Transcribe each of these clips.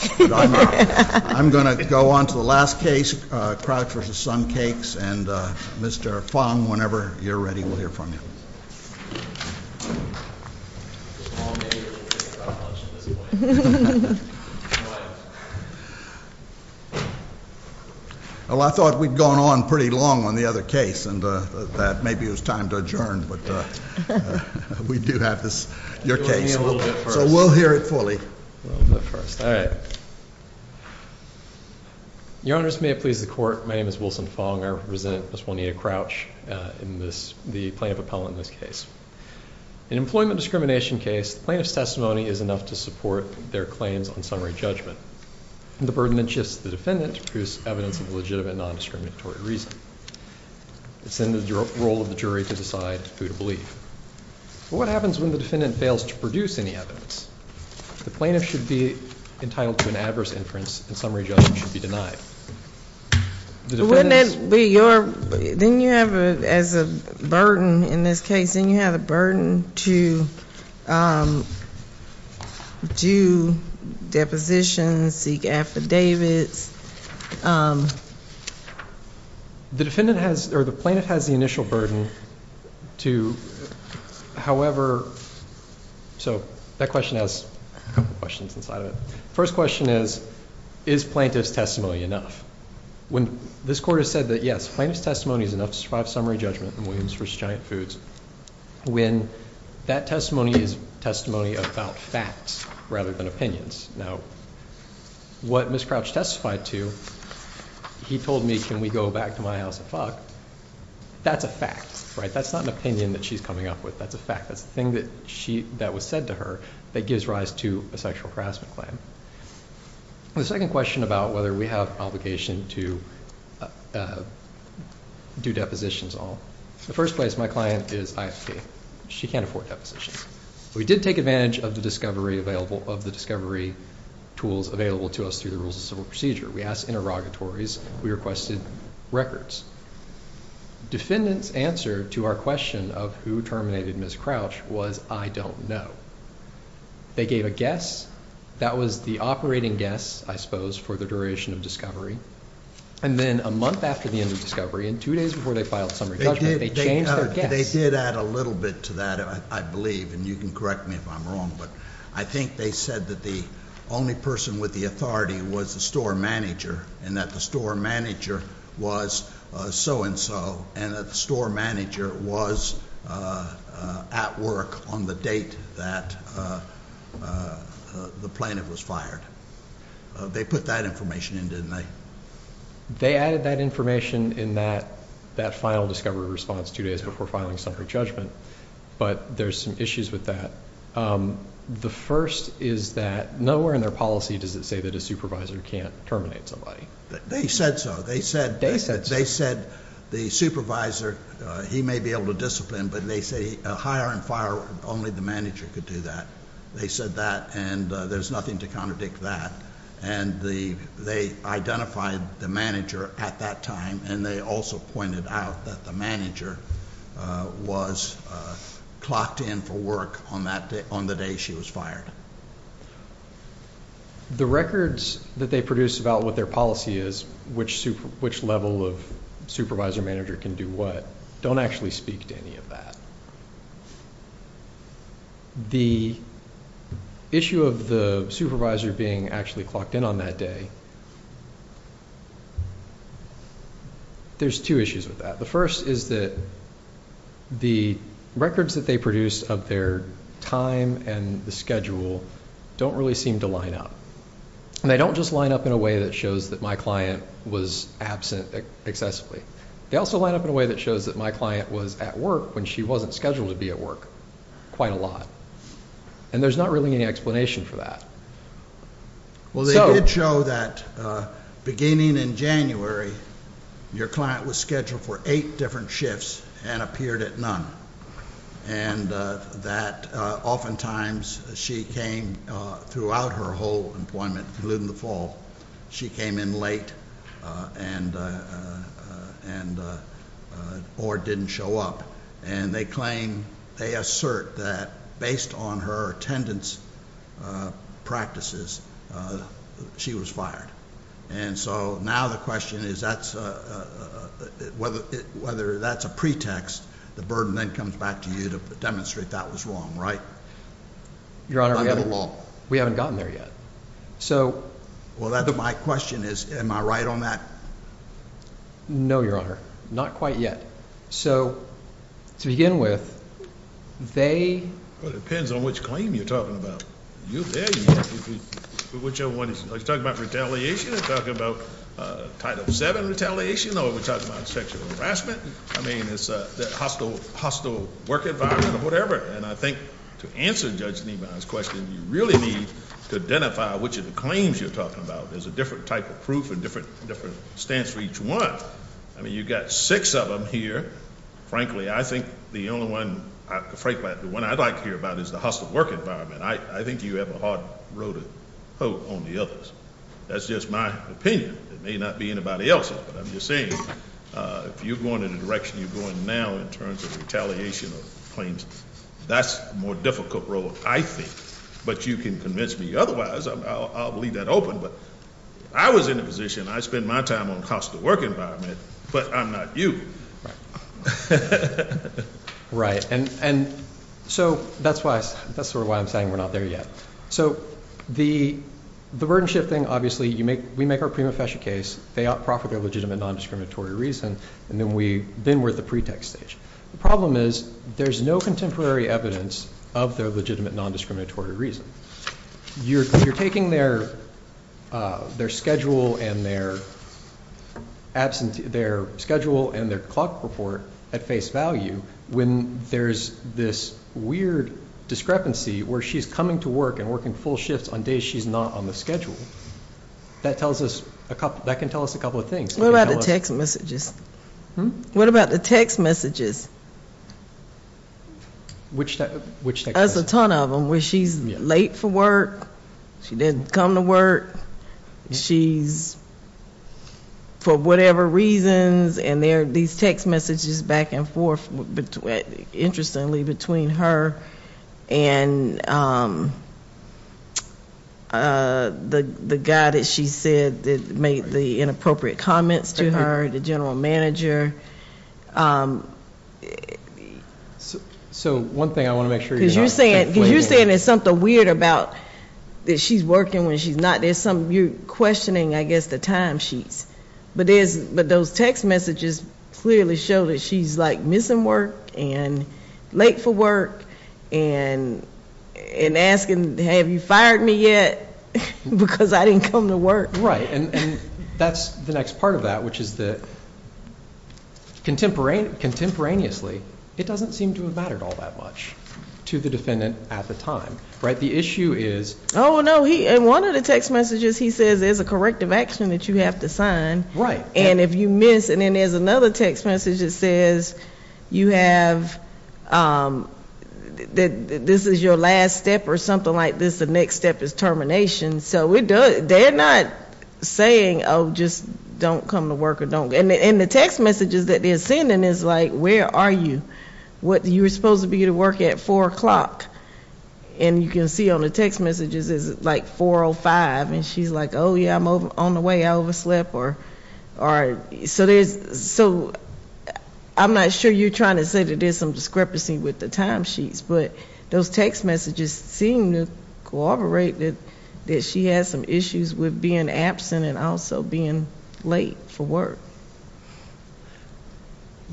I'm going to go on to the last case, Crouch v. SunCakes, and Mr. Fong, whenever you're ready, we'll hear from you. Well, I thought we'd gone on pretty long on the other case, and maybe it was time to adjourn, but we do have your case, so we'll hear it fully. Your Honors, may it please the Court, my name is Wilson Fong. I represent Ms. Juanita Crouch, the plaintiff appellant in this case. In an employment discrimination case, the plaintiff's testimony is enough to support their claims on summary judgment. The burden then shifts to the defendant to produce evidence of legitimate non-discriminatory reason. It's in the role of the jury to decide who to believe. What happens when the defendant fails to produce any evidence? The plaintiff should be entitled to an adverse inference, and summary judgment should be denied. Wouldn't that be your, then you have as a burden in this case, then you have a burden to do depositions, seek affidavits? The defendant has, or the plaintiff has the initial burden to, however, so that question has a couple questions inside of it. First question is, is plaintiff's testimony enough? When this Court has said that, yes, plaintiff's testimony is enough to survive summary judgment in Williams v. Giant Foods, when that testimony is testimony about facts rather than opinions. Now, what Ms. Crouch testified to, he told me, can we go back to my house and fuck? That's a fact, right? That's not an opinion that she's coming up with. That's a fact. That's the thing that was said to her that gives rise to a sexual harassment claim. The second question about whether we have obligation to do depositions at all. In the first place, my client is ISD. She can't afford depositions. We did take advantage of the discovery tools available to us through the rules of civil procedure. We asked interrogatories. We requested records. Defendant's answer to our question of who terminated Ms. Crouch was, I don't know. They gave a guess. That was the operating guess, I suppose, for the duration of discovery. And then a month after the end of discovery and two days before they filed summary judgment, they changed their guess. They did add a little bit to that, I believe, and you can correct me if I'm wrong, but I think they said that the only person with the authority was the store manager and that the store manager was so-and-so and that the store manager was at work on the date that the plaintiff was fired. They put that information in, didn't they? They added that information in that final discovery response two days before filing summary judgment, but there's some issues with that. The first is that nowhere in their policy does it say that a supervisor can't terminate somebody. They said so. They said the supervisor, he may be able to discipline, but they say hire and fire, only the manager could do that. They said that, and there's nothing to contradict that. And they identified the manager at that time, and they also pointed out that the manager was clocked in for work on the day she was fired. The records that they produce about what their policy is, which level of supervisor-manager can do what, don't actually speak to any of that. The issue of the supervisor being actually clocked in on that day, there's two issues with that. The first is that the records that they produce of their time and the schedule don't really seem to line up. They don't just line up in a way that shows that my client was absent excessively. They also line up in a way that shows that my client was at work when she wasn't scheduled to be at work quite a lot, and there's not really any explanation for that. Well, they did show that beginning in January, your client was scheduled for eight different shifts and appeared at none, and that oftentimes she came throughout her whole employment, including the fall. She came in late or didn't show up, and they claim they assert that based on her attendance practices, she was fired. And so now the question is whether that's a pretext. The burden then comes back to you to demonstrate that was wrong, right? Your Honor, we haven't gotten there yet. Well, my question is am I right on that? No, Your Honor, not quite yet. So to begin with, they... Well, it depends on which claim you're talking about. You're talking about retaliation, you're talking about Title VII retaliation, or we're talking about sexual harassment. I mean it's the hostile work environment or whatever, and I think to answer Judge Niemeyer's question, you really need to identify which of the claims you're talking about. There's a different type of proof and different stance for each one. I mean you've got six of them here. Frankly, I think the only one, frankly, the one I'd like to hear about is the hostile work environment. I think you have a hard road of hope on the others. That's just my opinion. It may not be anybody else's, but I'm just saying if you're going in the direction you're going now in terms of retaliation of claims, that's a more difficult road, I think. But you can convince me otherwise. I'll leave that open, but if I was in the position, I'd spend my time on the hostile work environment, but I'm not you. Right, and so that's sort of why I'm saying we're not there yet. So the burden shifting, obviously, we make our prima facie case. They out-profit their legitimate non-discriminatory reason, and then we're at the pretext stage. The problem is there's no contemporary evidence of their legitimate non-discriminatory reason. You're taking their schedule and their clock report at face value when there's this weird discrepancy where she's coming to work and working full shifts on days she's not on the schedule. That can tell us a couple of things. What about the text messages? What about the text messages? Which text messages? There's a ton of them where she's late for work, she didn't come to work, she's for whatever reasons, and there are these text messages back and forth, interestingly, between her and the guy that she said made the inappropriate comments to her, the general manager. So one thing I want to make sure you know. Because you're saying there's something weird about that she's working when she's not. You're questioning, I guess, the time sheets. But those text messages clearly show that she's missing work and late for work and asking, have you fired me yet, because I didn't come to work. Right, and that's the next part of that, which is that contemporaneously, it doesn't seem to have mattered all that much to the defendant at the time. Right, the issue is? Oh, no, in one of the text messages he says there's a corrective action that you have to sign. Right. And if you miss, and then there's another text message that says you have, that this is your last step or something like this, the next step is termination. So they're not saying, oh, just don't come to work. And the text messages that they're sending is like, where are you? You were supposed to be at work at 4 o'clock, and you can see on the text messages it's like 4 or 5, and she's like, oh, yeah, I'm on the way, I overslept. So I'm not sure you're trying to say that there's some discrepancy with the time sheets, but those text messages seem to corroborate that she has some issues with being absent and also being late for work.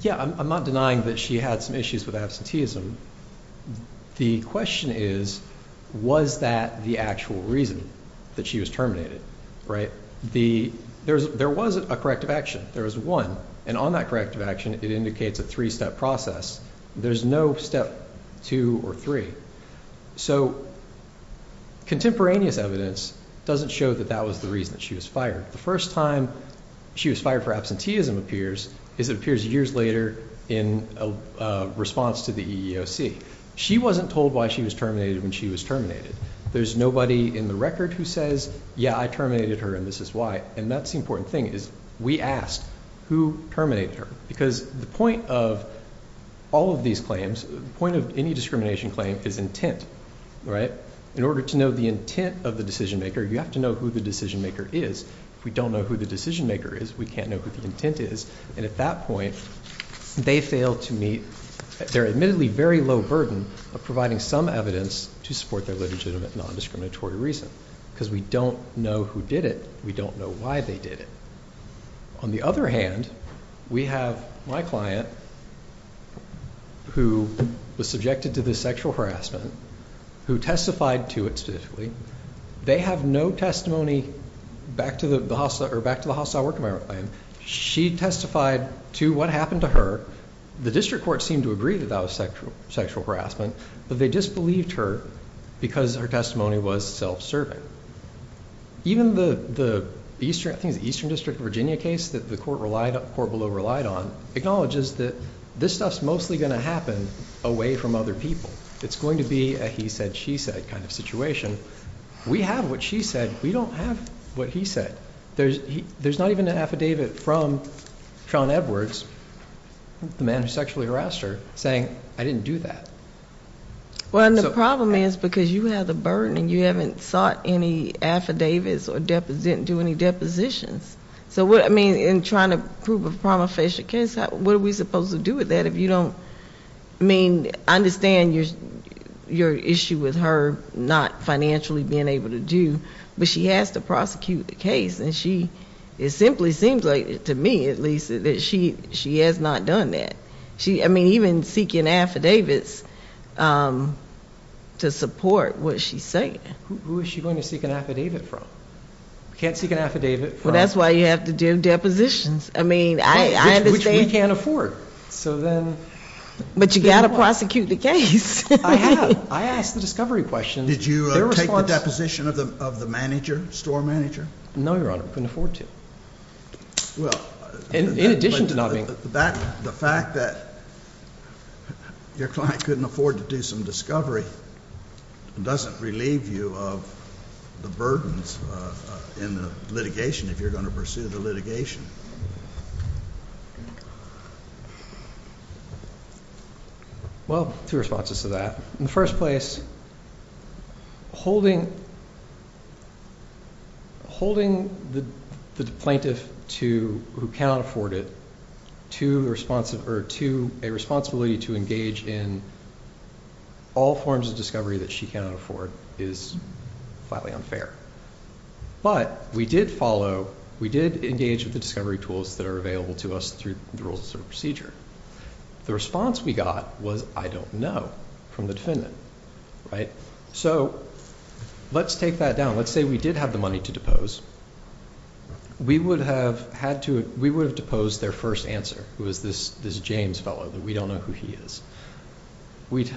Yeah, I'm not denying that she had some issues with absenteeism. The question is, was that the actual reason that she was terminated, right? There was a corrective action. There was one, and on that corrective action it indicates a three-step process. There's no step two or three. So contemporaneous evidence doesn't show that that was the reason that she was fired. The first time she was fired for absenteeism appears is it appears years later in response to the EEOC. She wasn't told why she was terminated when she was terminated. There's nobody in the record who says, yeah, I terminated her, and this is why. And that's the important thing is we asked who terminated her, because the point of all of these claims, the point of any discrimination claim is intent, right? In order to know the intent of the decision-maker, you have to know who the decision-maker is. If we don't know who the decision-maker is, we can't know who the intent is. And at that point, they fail to meet their admittedly very low burden of providing some evidence to support their legitimate non-discriminatory reason because we don't know who did it. We don't know why they did it. On the other hand, we have my client who was subjected to this sexual harassment who testified to it specifically. They have no testimony back to the hostile work environment. She testified to what happened to her. The district court seemed to agree that that was sexual harassment, but they disbelieved her because her testimony was self-serving. Even the Eastern District of Virginia case that the court below relied on acknowledges that this stuff is mostly going to happen away from other people. It's going to be a he said, she said kind of situation. We have what she said. We don't have what he said. There's not even an affidavit from Sean Edwards, the man who sexually harassed her, saying I didn't do that. Well, and the problem is because you have the burden and you haven't sought any affidavits or didn't do any depositions. So, I mean, in trying to prove a prima facie case, what are we supposed to do with that if you don't, I mean, understand your issue with her not financially being able to do, but she has to prosecute the case. And she, it simply seems like to me, at least, that she has not done that. I mean, even seeking affidavits to support what she's saying. Who is she going to seek an affidavit from? Can't seek an affidavit from. Well, that's why you have to do depositions. I mean, I understand. Which we can't afford. But you've got to prosecute the case. I have. I asked the discovery question. Did you take the deposition of the manager, store manager? No, Your Honor. Couldn't afford to. In addition to not being. The fact that your client couldn't afford to do some discovery doesn't relieve you of the burdens in the litigation if you're going to pursue the litigation. Well, two responses to that. In the first place, holding the plaintiff to, who cannot afford it, to a responsibility to engage in all forms of discovery that she cannot afford is flatly unfair. But we did follow, we did engage with the discovery tools that are available to us through the rules of procedure. The response we got was, I don't know, from the defendant. So let's take that down. Let's say we did have the money to depose. We would have deposed their first answer, who is this James fellow that we don't know who he is. We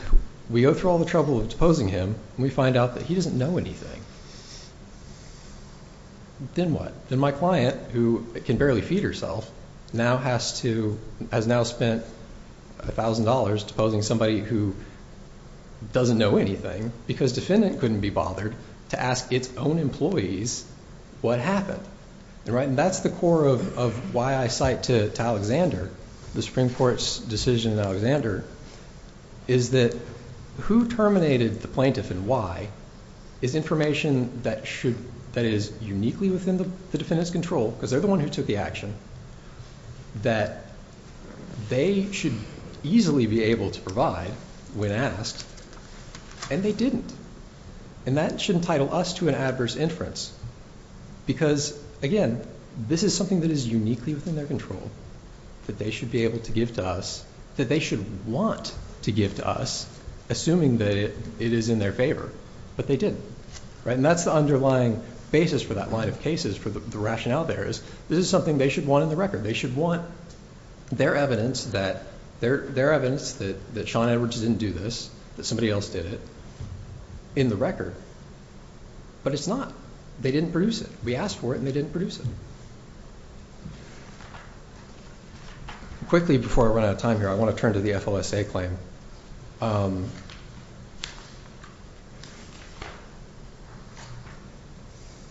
go through all the trouble of deposing him, and we find out that he doesn't know anything. Then what? Then my client, who can barely feed herself, has now spent $1,000 deposing somebody who doesn't know anything because defendant couldn't be bothered to ask its own employees what happened. And that's the core of why I cite to Alexander, the Supreme Court's decision in Alexander, is that who terminated the plaintiff and why, is information that is uniquely within the defendant's control, because they're the one who took the action, that they should easily be able to provide when asked, and they didn't. And that should entitle us to an adverse inference because, again, this is something that is uniquely within their control that they should be able to give to us, that they should want to give to us, assuming that it is in their favor, but they didn't. And that's the underlying basis for that line of cases, for the rationale there, is this is something they should want in the record. They should want their evidence that Sean Edwards didn't do this, that somebody else did it, in the record. But it's not. They didn't produce it. We asked for it, and they didn't produce it. Quickly, before I run out of time here, I want to turn to the FLSA claim.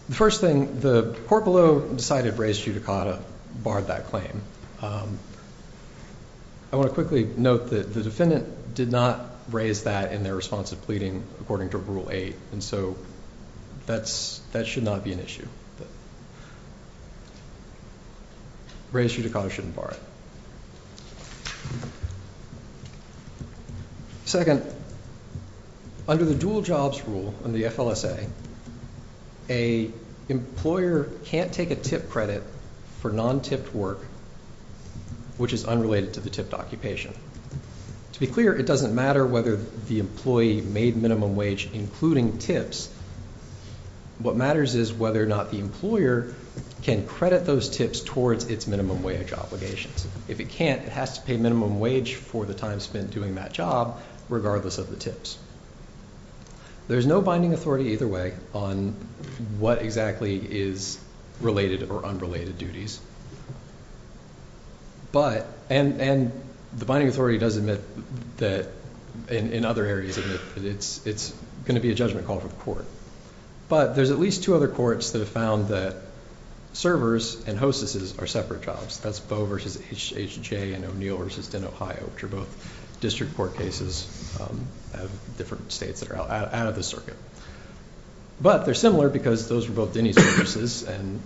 The first thing, the court below decided to raise judicata, barred that claim. I want to quickly note that the defendant did not raise that in their response of pleading, according to Rule 8. And so that should not be an issue. Raised judicata shouldn't bar it. Second, under the dual jobs rule in the FLSA, an employer can't take a tip credit for non-tipped work, which is unrelated to the tipped occupation. To be clear, it doesn't matter whether the employee made minimum wage, including tips. What matters is whether or not the employer can credit those tips towards its minimum wage obligations. If it can't, it has to pay minimum wage for the time spent doing that job, regardless of the tips. There's no binding authority either way on what exactly is related or unrelated duties. And the binding authority does admit that, in other areas, it's going to be a judgment call for the court. But there's at least two other courts that have found that servers and hostesses are separate jobs. That's Boe v. H.J. and O'Neill v. Denn, Ohio, which are both district court cases of different states that are out of the circuit. But they're similar because those were both Denny's services, and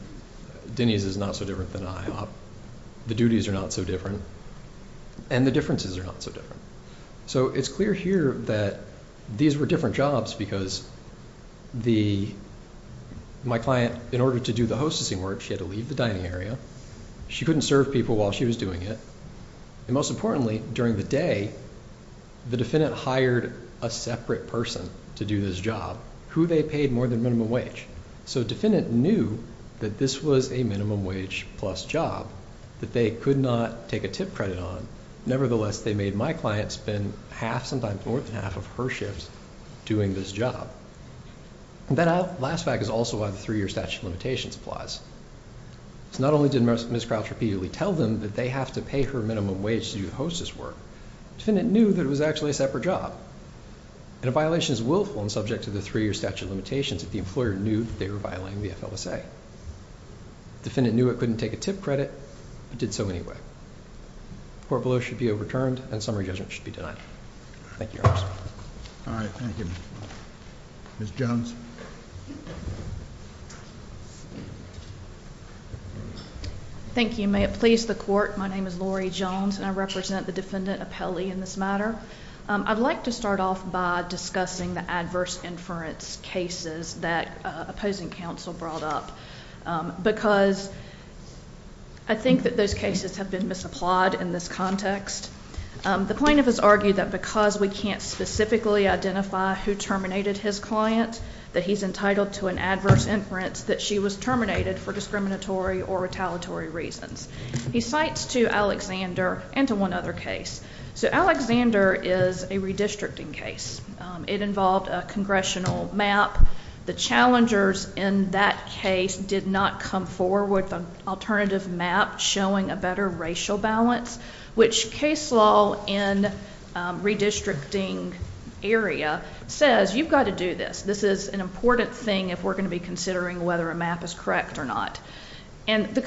Denny's is not so different than IHOP. The duties are not so different, and the differences are not so different. So it's clear here that these were different jobs because my client, in order to do the hostessing work, she had to leave the dining area. She couldn't serve people while she was doing it. And most importantly, during the day, the defendant hired a separate person to do this job who they paid more than minimum wage. So the defendant knew that this was a minimum wage plus job that they could not take a tip credit on. Nevertheless, they made my client spend half, sometimes more than half, of her shift doing this job. And that last fact is also why the three-year statute of limitations applies. So not only did Ms. Crouch repeatedly tell them that they have to pay her minimum wage to do the hostess work, the defendant knew that it was actually a separate job. And a violation is willful and subject to the three-year statute of limitations if the employer knew that they were violating the FLSA. The defendant knew it couldn't take a tip credit, but did so anyway. Court below should be overturned, and summary judgment should be denied. Thank you, Your Honor. All right, thank you. Ms. Jones. Thank you. May it please the court, my name is Lori Jones, and I represent the defendant, Apelli, in this matter. I'd like to start off by discussing the adverse inference cases that opposing counsel brought up because I think that those cases have been misapplied in this context. The plaintiff has argued that because we can't specifically identify who terminated his client, that he's entitled to an adverse inference that she was terminated for discriminatory or retaliatory reasons. He cites two Alexander and to one other case. So Alexander is a redistricting case. It involved a congressional map. The challengers in that case did not come forward with an alternative map showing a better racial balance, which case law in redistricting area says you've got to do this. This is an important thing if we're going to be considering whether a map is correct or not. And the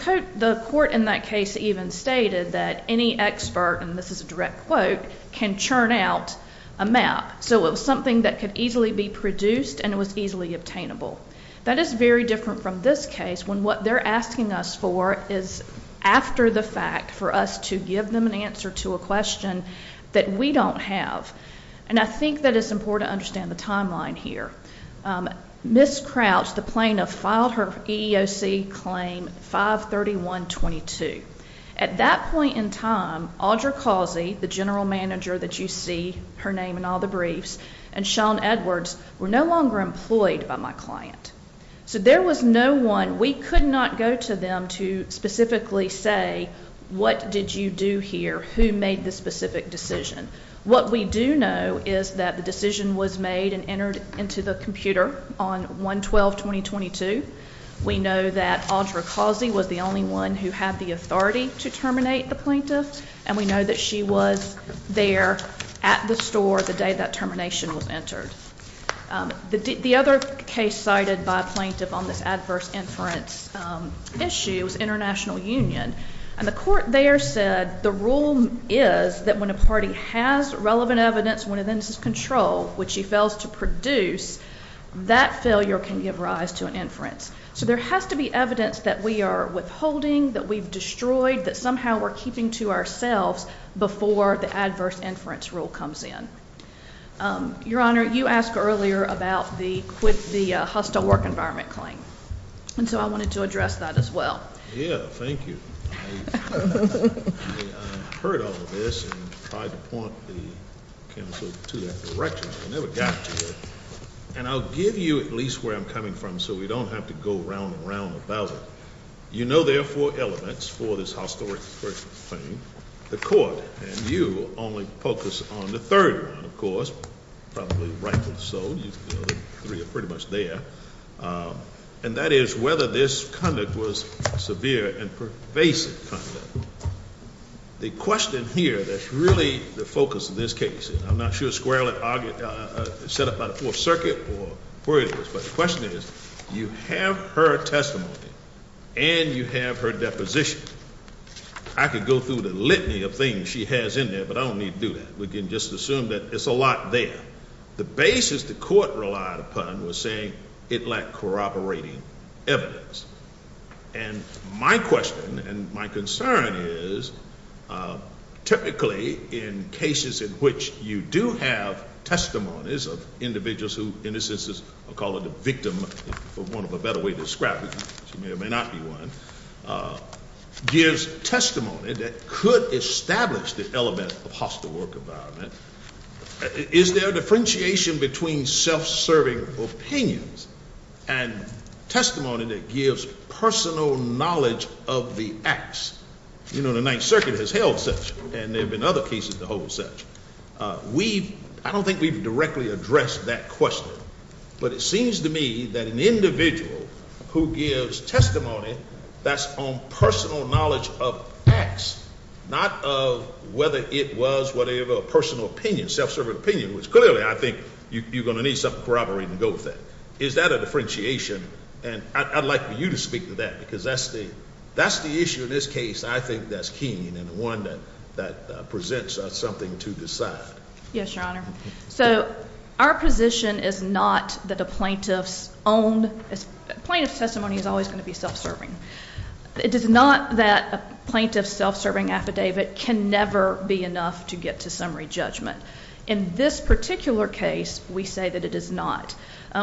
court in that case even stated that any expert, and this is a direct quote, can churn out a map. So it was something that could easily be produced, and it was easily obtainable. That is very different from this case when what they're asking us for is after the fact for us to give them an answer to a question that we don't have. And I think that it's important to understand the timeline here. Ms. Crouch, the plaintiff, filed her EEOC claim 531-22. At that point in time, Audra Causey, the general manager that you see, her name in all the briefs, and Sean Edwards were no longer employed by my client. So there was no one. We could not go to them to specifically say, what did you do here? Who made the specific decision? What we do know is that the decision was made and entered into the computer on 1-12-2022. We know that Audra Causey was the only one who had the authority to terminate the plaintiff, and we know that she was there at the store the day that termination was entered. The other case cited by a plaintiff on this adverse inference issue was International Union. And the court there said the rule is that when a party has relevant evidence within its control, which she fails to produce, that failure can give rise to an inference. So there has to be evidence that we are withholding, that we've destroyed, that somehow we're keeping to ourselves before the adverse inference rule comes in. Your Honor, you asked earlier about the hostile work environment claim, and so I wanted to address that as well. Yeah, thank you. I heard all of this and tried to point the counsel to that direction, but I never got to it. And I'll give you at least where I'm coming from so we don't have to go round and round about it. You know there are four elements for this hostile work claim. The court, and you, only focus on the third one, of course, probably rightfully so. You know the three are pretty much there. And that is whether this conduct was severe and pervasive conduct. The question here that's really the focus of this case, and I'm not sure Squarely set up by the Fourth Circuit or where it is, but the question is you have her testimony and you have her deposition. I could go through the litany of things she has in there, but I don't need to do that. We can just assume that it's a lot there. The basis the court relied upon was saying it lacked corroborating evidence. And my question and my concern is typically in cases in which you do have testimonies of individuals who, in this instance, I'll call it a victim, for want of a better way to describe it. She may or may not be one. Gives testimony that could establish the element of hostile work environment. Is there a differentiation between self-serving opinions and testimony that gives personal knowledge of the acts? The Ninth Circuit has held such, and there have been other cases to hold such. I don't think we've directly addressed that question. But it seems to me that an individual who gives testimony that's on personal knowledge of acts, not of whether it was whatever personal opinion, self-serving opinion, which clearly I think you're going to need some corroborating to go with that. Is that a differentiation? And I'd like for you to speak to that, because that's the issue in this case I think that's keen and the one that presents something to decide. Yes, Your Honor. So our position is not that a plaintiff's testimony is always going to be self-serving. It is not that a plaintiff's self-serving affidavit can never be enough to get to summary judgment. In this particular case, we say that it is not.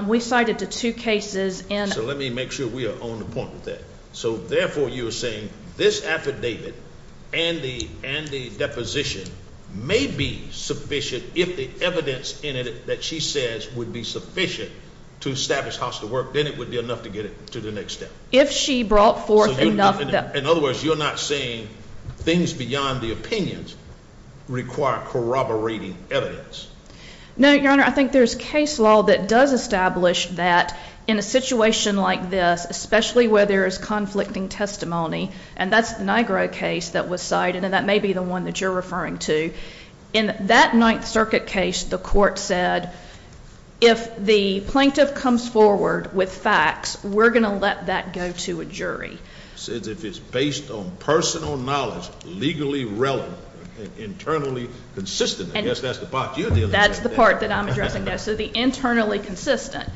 We cited the two cases in. So let me make sure we are on the point with that. So therefore you are saying this affidavit and the deposition may be sufficient if the evidence in it that she says would be sufficient to establish hostile work, then it would be enough to get it to the next step. In other words, you're not saying things beyond the opinions require corroborating evidence. No, Your Honor. I think there's case law that does establish that in a situation like this, especially where there is conflicting testimony, and that's the Nigro case that was cited, and that may be the one that you're referring to. In that Ninth Circuit case, the court said if the plaintiff comes forward with facts, we're going to let that go to a jury. It says if it's based on personal knowledge, legally relevant, internally consistent. I guess that's the part you're dealing with. That's the part that I'm addressing now. So the internally consistent.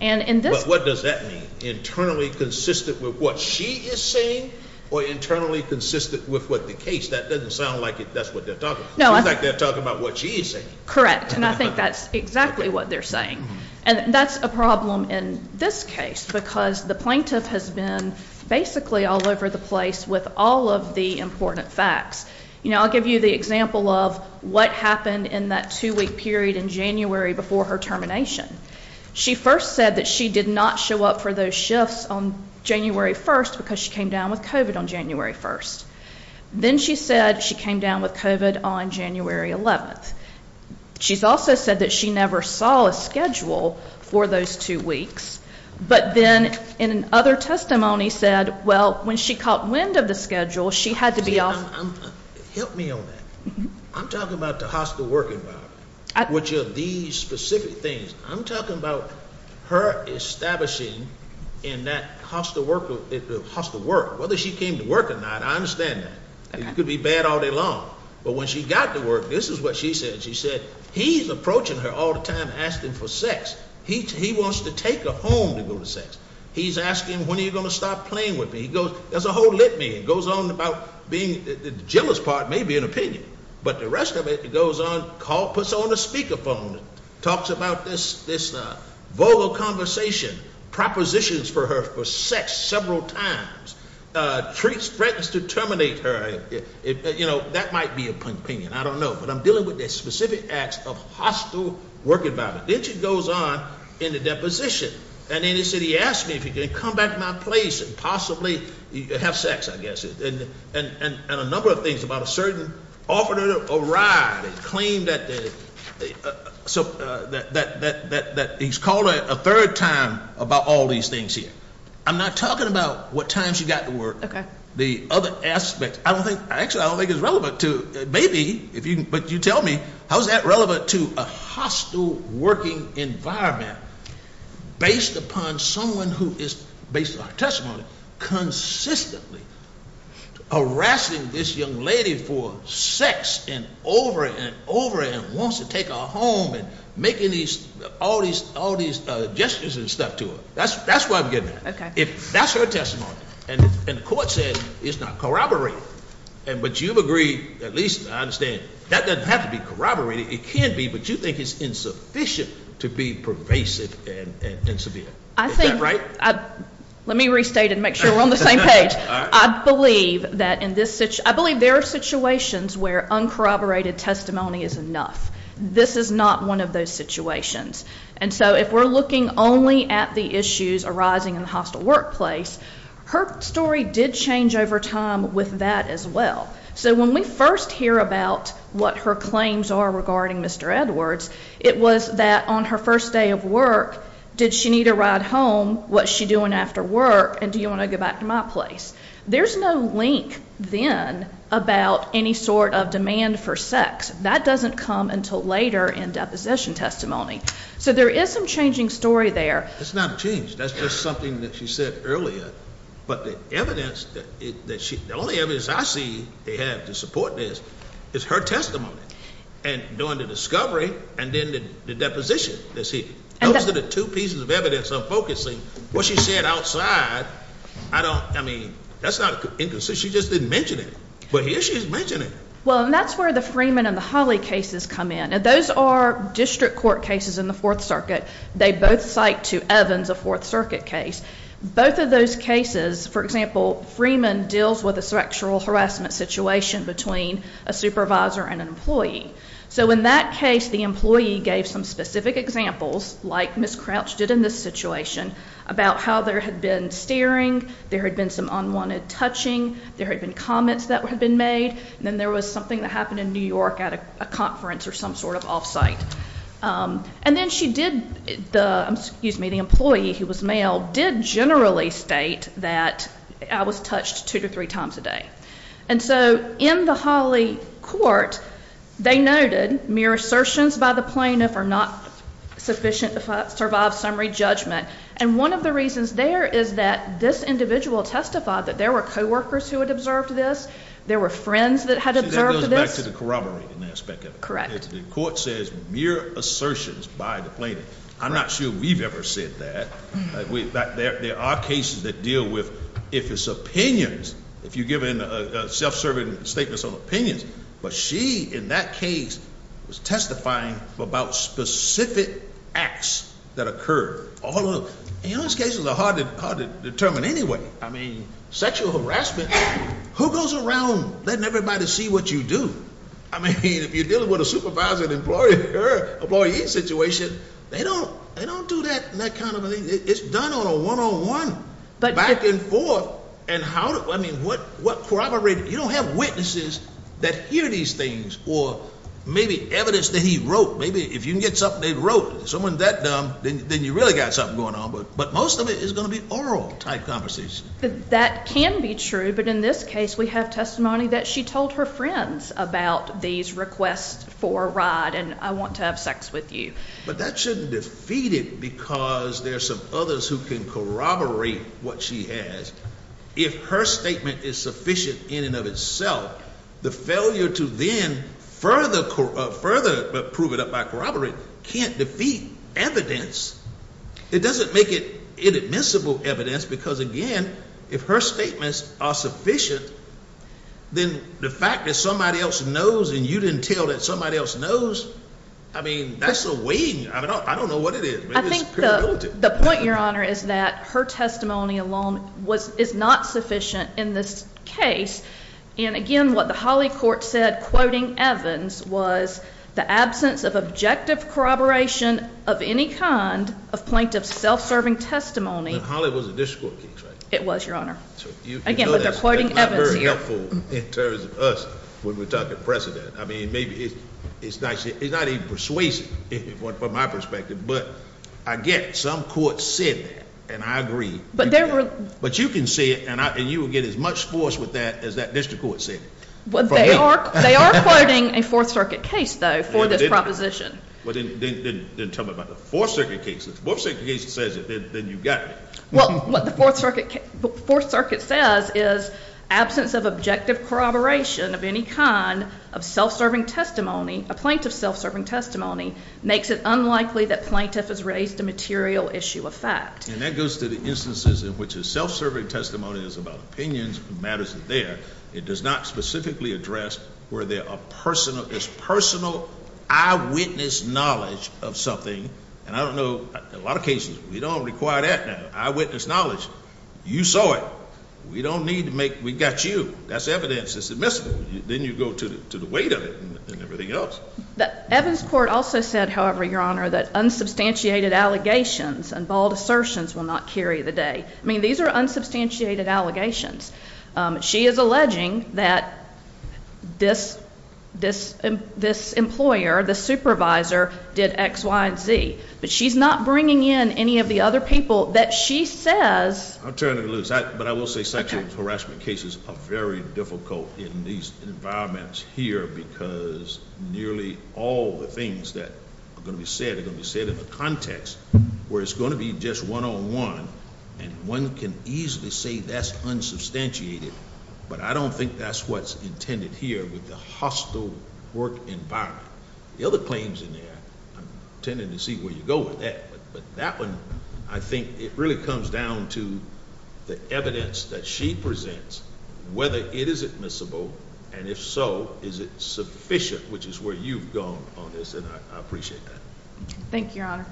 What does that mean? Internally consistent with what she is saying or internally consistent with what the case? That doesn't sound like that's what they're talking about. It seems like they're talking about what she is saying. Correct. And I think that's exactly what they're saying. And that's a problem in this case because the plaintiff has been basically all over the place with all of the important facts. I'll give you the example of what happened in that two-week period in January before her termination. She first said that she did not show up for those shifts on January 1st because she came down with COVID on January 1st. Then she said she came down with COVID on January 11th. She's also said that she never saw a schedule for those two weeks. But then in another testimony said, well, when she caught wind of the schedule, she had to be off. Help me on that. I'm talking about the hostile work environment, which are these specific things. I'm talking about her establishing in that hostile work. Whether she came to work or not, I understand that. It could be bad all day long. But when she got to work, this is what she said. She said, he's approaching her all the time asking for sex. He wants to take her home to go to sex. He's asking, when are you going to stop playing with me? He goes, that's a whole litany. It goes on about being, the jealous part may be an opinion, but the rest of it goes on, puts her on a speakerphone, talks about this vulgar conversation, propositions for her for sex several times, threats to terminate her. That might be an opinion. I don't know. But I'm dealing with the specific acts of hostile work environment. Then she goes on in the deposition. And then she said, he asked me if he could come back to my place and possibly have sex, I guess. And a number of things about a certain, offered her a ride, and claimed that he's called her a third time about all these things here. I'm not talking about what times she got to work. Okay. The other aspects. I don't think, actually I don't think it's relevant to, maybe, but you tell me, how is that relevant to a hostile working environment based upon someone who is, based on our testimony, consistently harassing this young lady for sex and over and over and wants to take her home and making all these gestures and stuff to her. That's where I'm getting at. Okay. If that's her testimony, and the court says it's not corroborated, but you've agreed, at least I understand, that doesn't have to be corroborated. It can be, but you think it's insufficient to be pervasive and severe. Is that right? Let me restate it and make sure we're on the same page. I believe that in this, I believe there are situations where uncorroborated testimony is enough. This is not one of those situations. And so if we're looking only at the issues arising in the hostile workplace, her story did change over time with that as well. So when we first hear about what her claims are regarding Mr. Edwards, it was that on her first day of work, did she need a ride home, what's she doing after work, and do you want to go back to my place? There's no link then about any sort of demand for sex. That doesn't come until later in deposition testimony. So there is some changing story there. It's not a change. That's just something that she said earlier. But the evidence that she, the only evidence I see they have to support this is her testimony and during the discovery and then the deposition. Those are the two pieces of evidence I'm focusing. What she said outside, I don't, I mean, that's not inconsistent. She just didn't mention it. But here she is mentioning it. Well, and that's where the Freeman and the Holly cases come in. Those are district court cases in the Fourth Circuit. They both cite to Evans a Fourth Circuit case. Both of those cases, for example, Freeman deals with a sexual harassment situation between a supervisor and an employee. So in that case, the employee gave some specific examples, like Ms. Crouch did in this situation, about how there had been staring, there had been some unwanted touching, there had been comments that had been made, and then there was something that happened in New York at a conference or some sort of off-site. And then she did the, excuse me, the employee, who was male, did generally state that I was touched two to three times a day. And so in the Holly court, they noted mere assertions by the plaintiff are not sufficient to survive summary judgment. And one of the reasons there is that this individual testified that there were coworkers who had observed this, there were friends that had observed this. See, that goes back to the corroborating aspect of it. Correct. The court says mere assertions by the plaintiff. I'm not sure we've ever said that. There are cases that deal with, if it's opinions, if you give a self-serving statement on opinions, but she, in that case, was testifying about specific acts that occurred. And those cases are hard to determine anyway. I mean, sexual harassment, who goes around letting everybody see what you do? I mean, if you're dealing with a supervisor and employee situation, they don't do that kind of thing. It's done on a one-on-one, back and forth. And how, I mean, what corroborating? You don't have witnesses that hear these things or maybe evidence that he wrote. Maybe if you can get something they wrote, someone that dumb, then you really got something going on. But most of it is going to be oral-type conversations. That can be true, but in this case we have testimony that she told her friends about these requests for a ride and I want to have sex with you. But that shouldn't defeat it because there are some others who can corroborate what she has. If her statement is sufficient in and of itself, the failure to then further prove it up by corroborating can't defeat evidence. It doesn't make it inadmissible evidence because, again, if her statements are sufficient, then the fact that somebody else knows and you didn't tell that somebody else knows, I mean, that's a weight. I don't know what it is. I think the point, Your Honor, is that her testimony alone is not sufficient in this case. And, again, what the Holly Court said, quoting Evans, was the absence of objective corroboration of any kind of plaintiff's self-serving testimony. But Holly was a district court case, right? It was, Your Honor. Again, but they're quoting Evans here. That's not very helpful in terms of us when we talk to precedent. I mean, maybe it's not even persuasive from my perspective, but I get some courts said that, and I agree. But you can see it, and you will get as much force with that as that district court said. They are quoting a Fourth Circuit case, though, for this proposition. Then tell me about the Fourth Circuit case. If the Fourth Circuit case says it, then you've got it. Well, what the Fourth Circuit says is absence of objective corroboration of any kind of self-serving testimony, a plaintiff's self-serving testimony, makes it unlikely that plaintiff has raised a material issue of fact. And that goes to the instances in which a self-serving testimony is about opinions and matters there. It does not specifically address where there is personal eyewitness knowledge of something. And I don't know, a lot of cases, we don't require that now, eyewitness knowledge. You saw it. We don't need to make, we got you. That's evidence. It's admissible. Then you go to the weight of it and everything else. Evan's court also said, however, Your Honor, that unsubstantiated allegations and bald assertions will not carry the day. I mean, these are unsubstantiated allegations. She is alleging that this employer, this supervisor, did X, Y, and Z. But she's not bringing in any of the other people that she says. I'll turn it loose. But I will say sexual harassment cases are very difficult in these environments here. Because nearly all the things that are going to be said are going to be said in a context where it's going to be just one-on-one. And one can easily say that's unsubstantiated. But I don't think that's what's intended here with the hostile work environment. The other claims in there, I'm intending to see where you go with that. But that one, I think it really comes down to the evidence that she presents, whether it is admissible. And if so, is it sufficient, which is where you've gone on this, and I appreciate that. Thank you, Your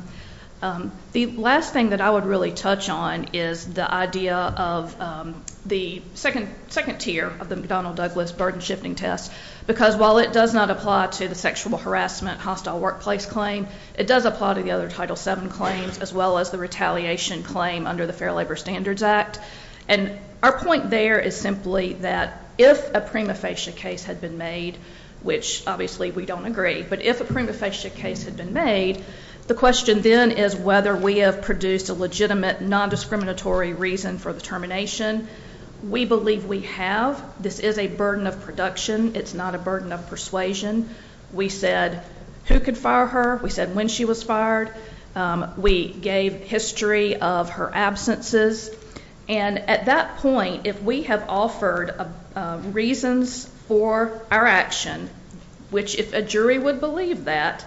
Honor. The last thing that I would really touch on is the idea of the second tier of the McDonnell-Douglas burden-shifting test. Because while it does not apply to the sexual harassment hostile workplace claim, it does apply to the other Title VII claims, as well as the retaliation claim under the Fair Labor Standards Act. And our point there is simply that if a prima facie case had been made, which obviously we don't agree, but if a prima facie case had been made, the question then is whether we have produced a legitimate, non-discriminatory reason for the termination. We believe we have. This is a burden of production. It's not a burden of persuasion. We said who could fire her. We said when she was fired. We gave history of her absences. And at that point, if we have offered reasons for our action, which if a jury would believe that,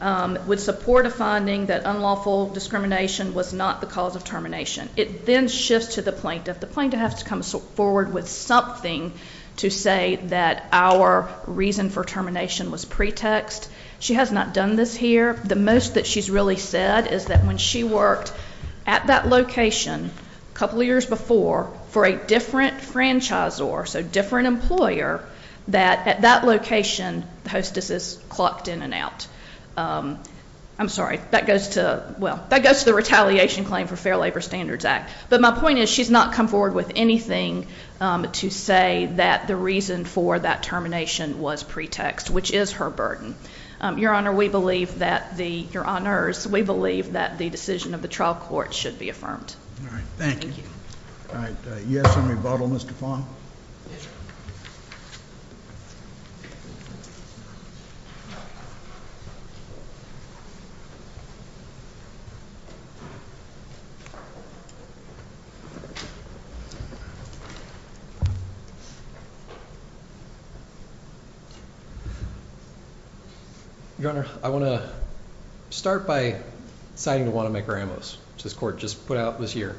would support a finding that unlawful discrimination was not the cause of termination, it then shifts to the plaintiff. The plaintiff has to come forward with something to say that our reason for termination was pretext. She has not done this here. The most that she's really said is that when she worked at that location a couple years before for a different franchisor, so different employer, that at that location the hostess is clocked in and out. I'm sorry. That goes to the Retaliation Claim for Fair Labor Standards Act. But my point is she's not come forward with anything to say that the reason for that termination was pretext, which is her burden. Your Honors, we believe that the decision of the trial court should be affirmed. Thank you. All right. Yes in rebuttal, Mr. Fong? Yes, sir. Your Honor, I want to start by citing the Wanamaker Amos, which this court just put out this year.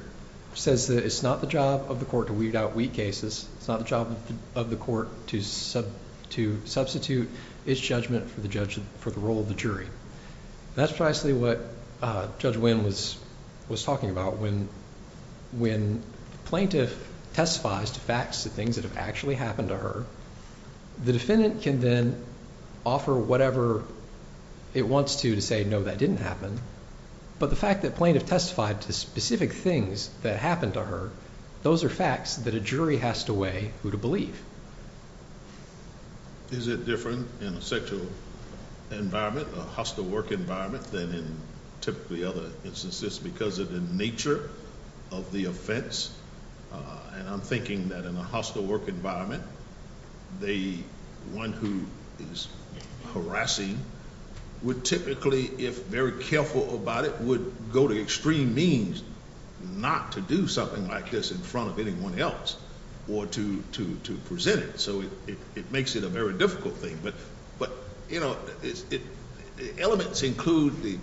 It says that it's not the job of the court to weed out weak cases. It's not the job of the court to substitute its judgment for the role of the jury. That's precisely what Judge Winn was talking about. When plaintiff testifies to facts, the things that have actually happened to her, the defendant can then offer whatever it wants to to say, no, that didn't happen. But the fact that plaintiff testified to specific things that happened to her, those are facts that a jury has to weigh who to believe. Is it different in a sexual environment, a hostile work environment, than in typically other instances because of the nature of the offense? And I'm thinking that in a hostile work environment, the one who is harassing would typically, if very careful about it, would go to extreme means not to do something like this in front of anyone else or to present it. So it makes it a very difficult thing. But, you know, elements include the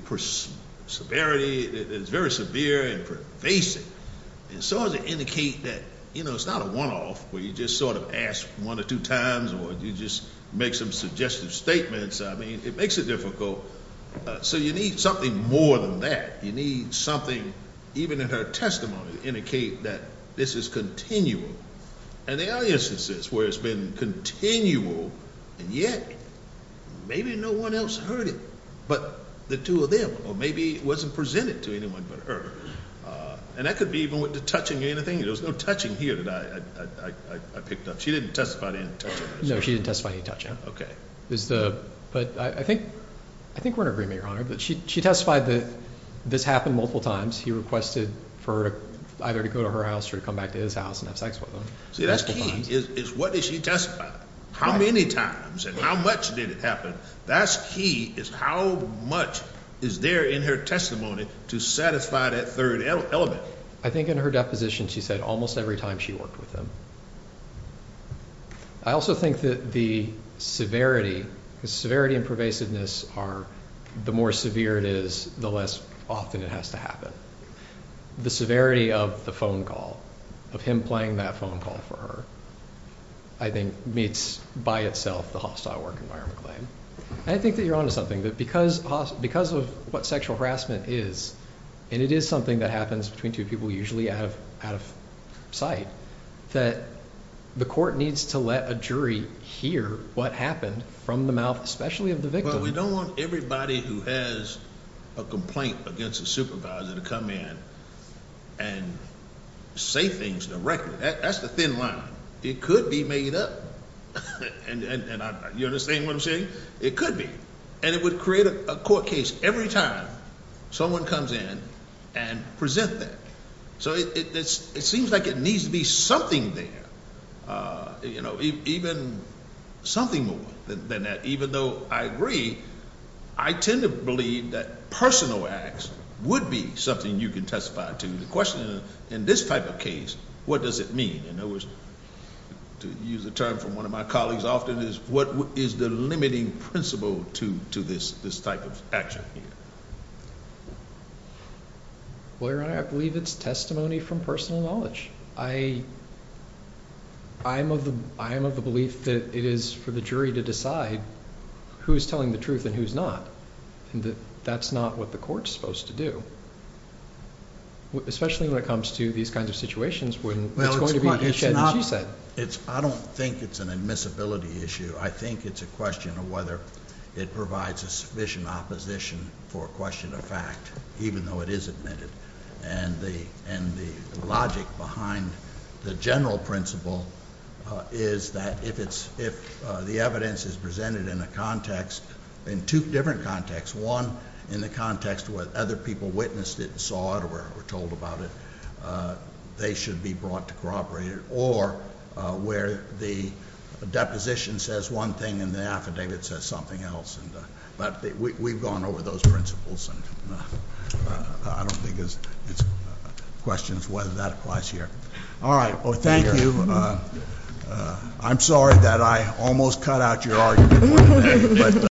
severity that is very severe and pervasive. And so does it indicate that, you know, it's not a one-off where you just sort of ask one or two times or you just make some suggestive statements. I mean, it makes it difficult. So you need something more than that. You need something, even in her testimony, to indicate that this is continual. And there are instances where it's been continual, and yet maybe no one else heard it but the two of them or maybe it wasn't presented to anyone but her. And that could be even with the touching or anything. There was no touching here that I picked up. She didn't testify to any touching. No, she didn't testify to any touching. Okay. But I think we're in agreement, Your Honor, that she testified that this happened multiple times. He requested for her either to go to her house or to come back to his house and have sex with him. See, that's key is what did she testify? How many times and how much did it happen? That's key is how much is there in her testimony to satisfy that third element. I think in her deposition she said almost every time she worked with him. I also think that the severity, the severity and pervasiveness are the more severe it is, the less often it has to happen. The severity of the phone call, of him playing that phone call for her, I think meets by itself the hostile work environment claim. And I think that you're on to something, that because of what sexual harassment is, and it is something that happens between two people usually out of sight, that the court needs to let a jury hear what happened from the mouth especially of the victim. Well, we don't want everybody who has a complaint against a supervisor to come in and say things directly. That's the thin line. It could be made up. You understand what I'm saying? It could be. And it would create a court case every time someone comes in and present that. So it seems like it needs to be something there, even something more than that. Even though I agree, I tend to believe that personal acts would be something you can testify to. The question in this type of case, what does it mean? In other words, to use a term from one of my colleagues often is, what is the limiting principle to this type of action? Well, Your Honor, I believe it's testimony from personal knowledge. I am of the belief that it is for the jury to decide who is telling the truth and who is not. That's not what the court is supposed to do, especially when it comes to these kinds of situations. It's going to be what you said and she said. I don't think it's an admissibility issue. I think it's a question of whether it provides a sufficient opposition for a question of fact, even though it is admitted. And the logic behind the general principle is that if the evidence is presented in a context, in two different contexts, one in the context where other people witnessed it and saw it or were told about it, they should be brought to corroborate it, or where the deposition says one thing and the affidavit says something else. But we've gone over those principles. I don't think it's a question of whether that applies here. All right. Thank you. I'm sorry that I almost cut out your argument.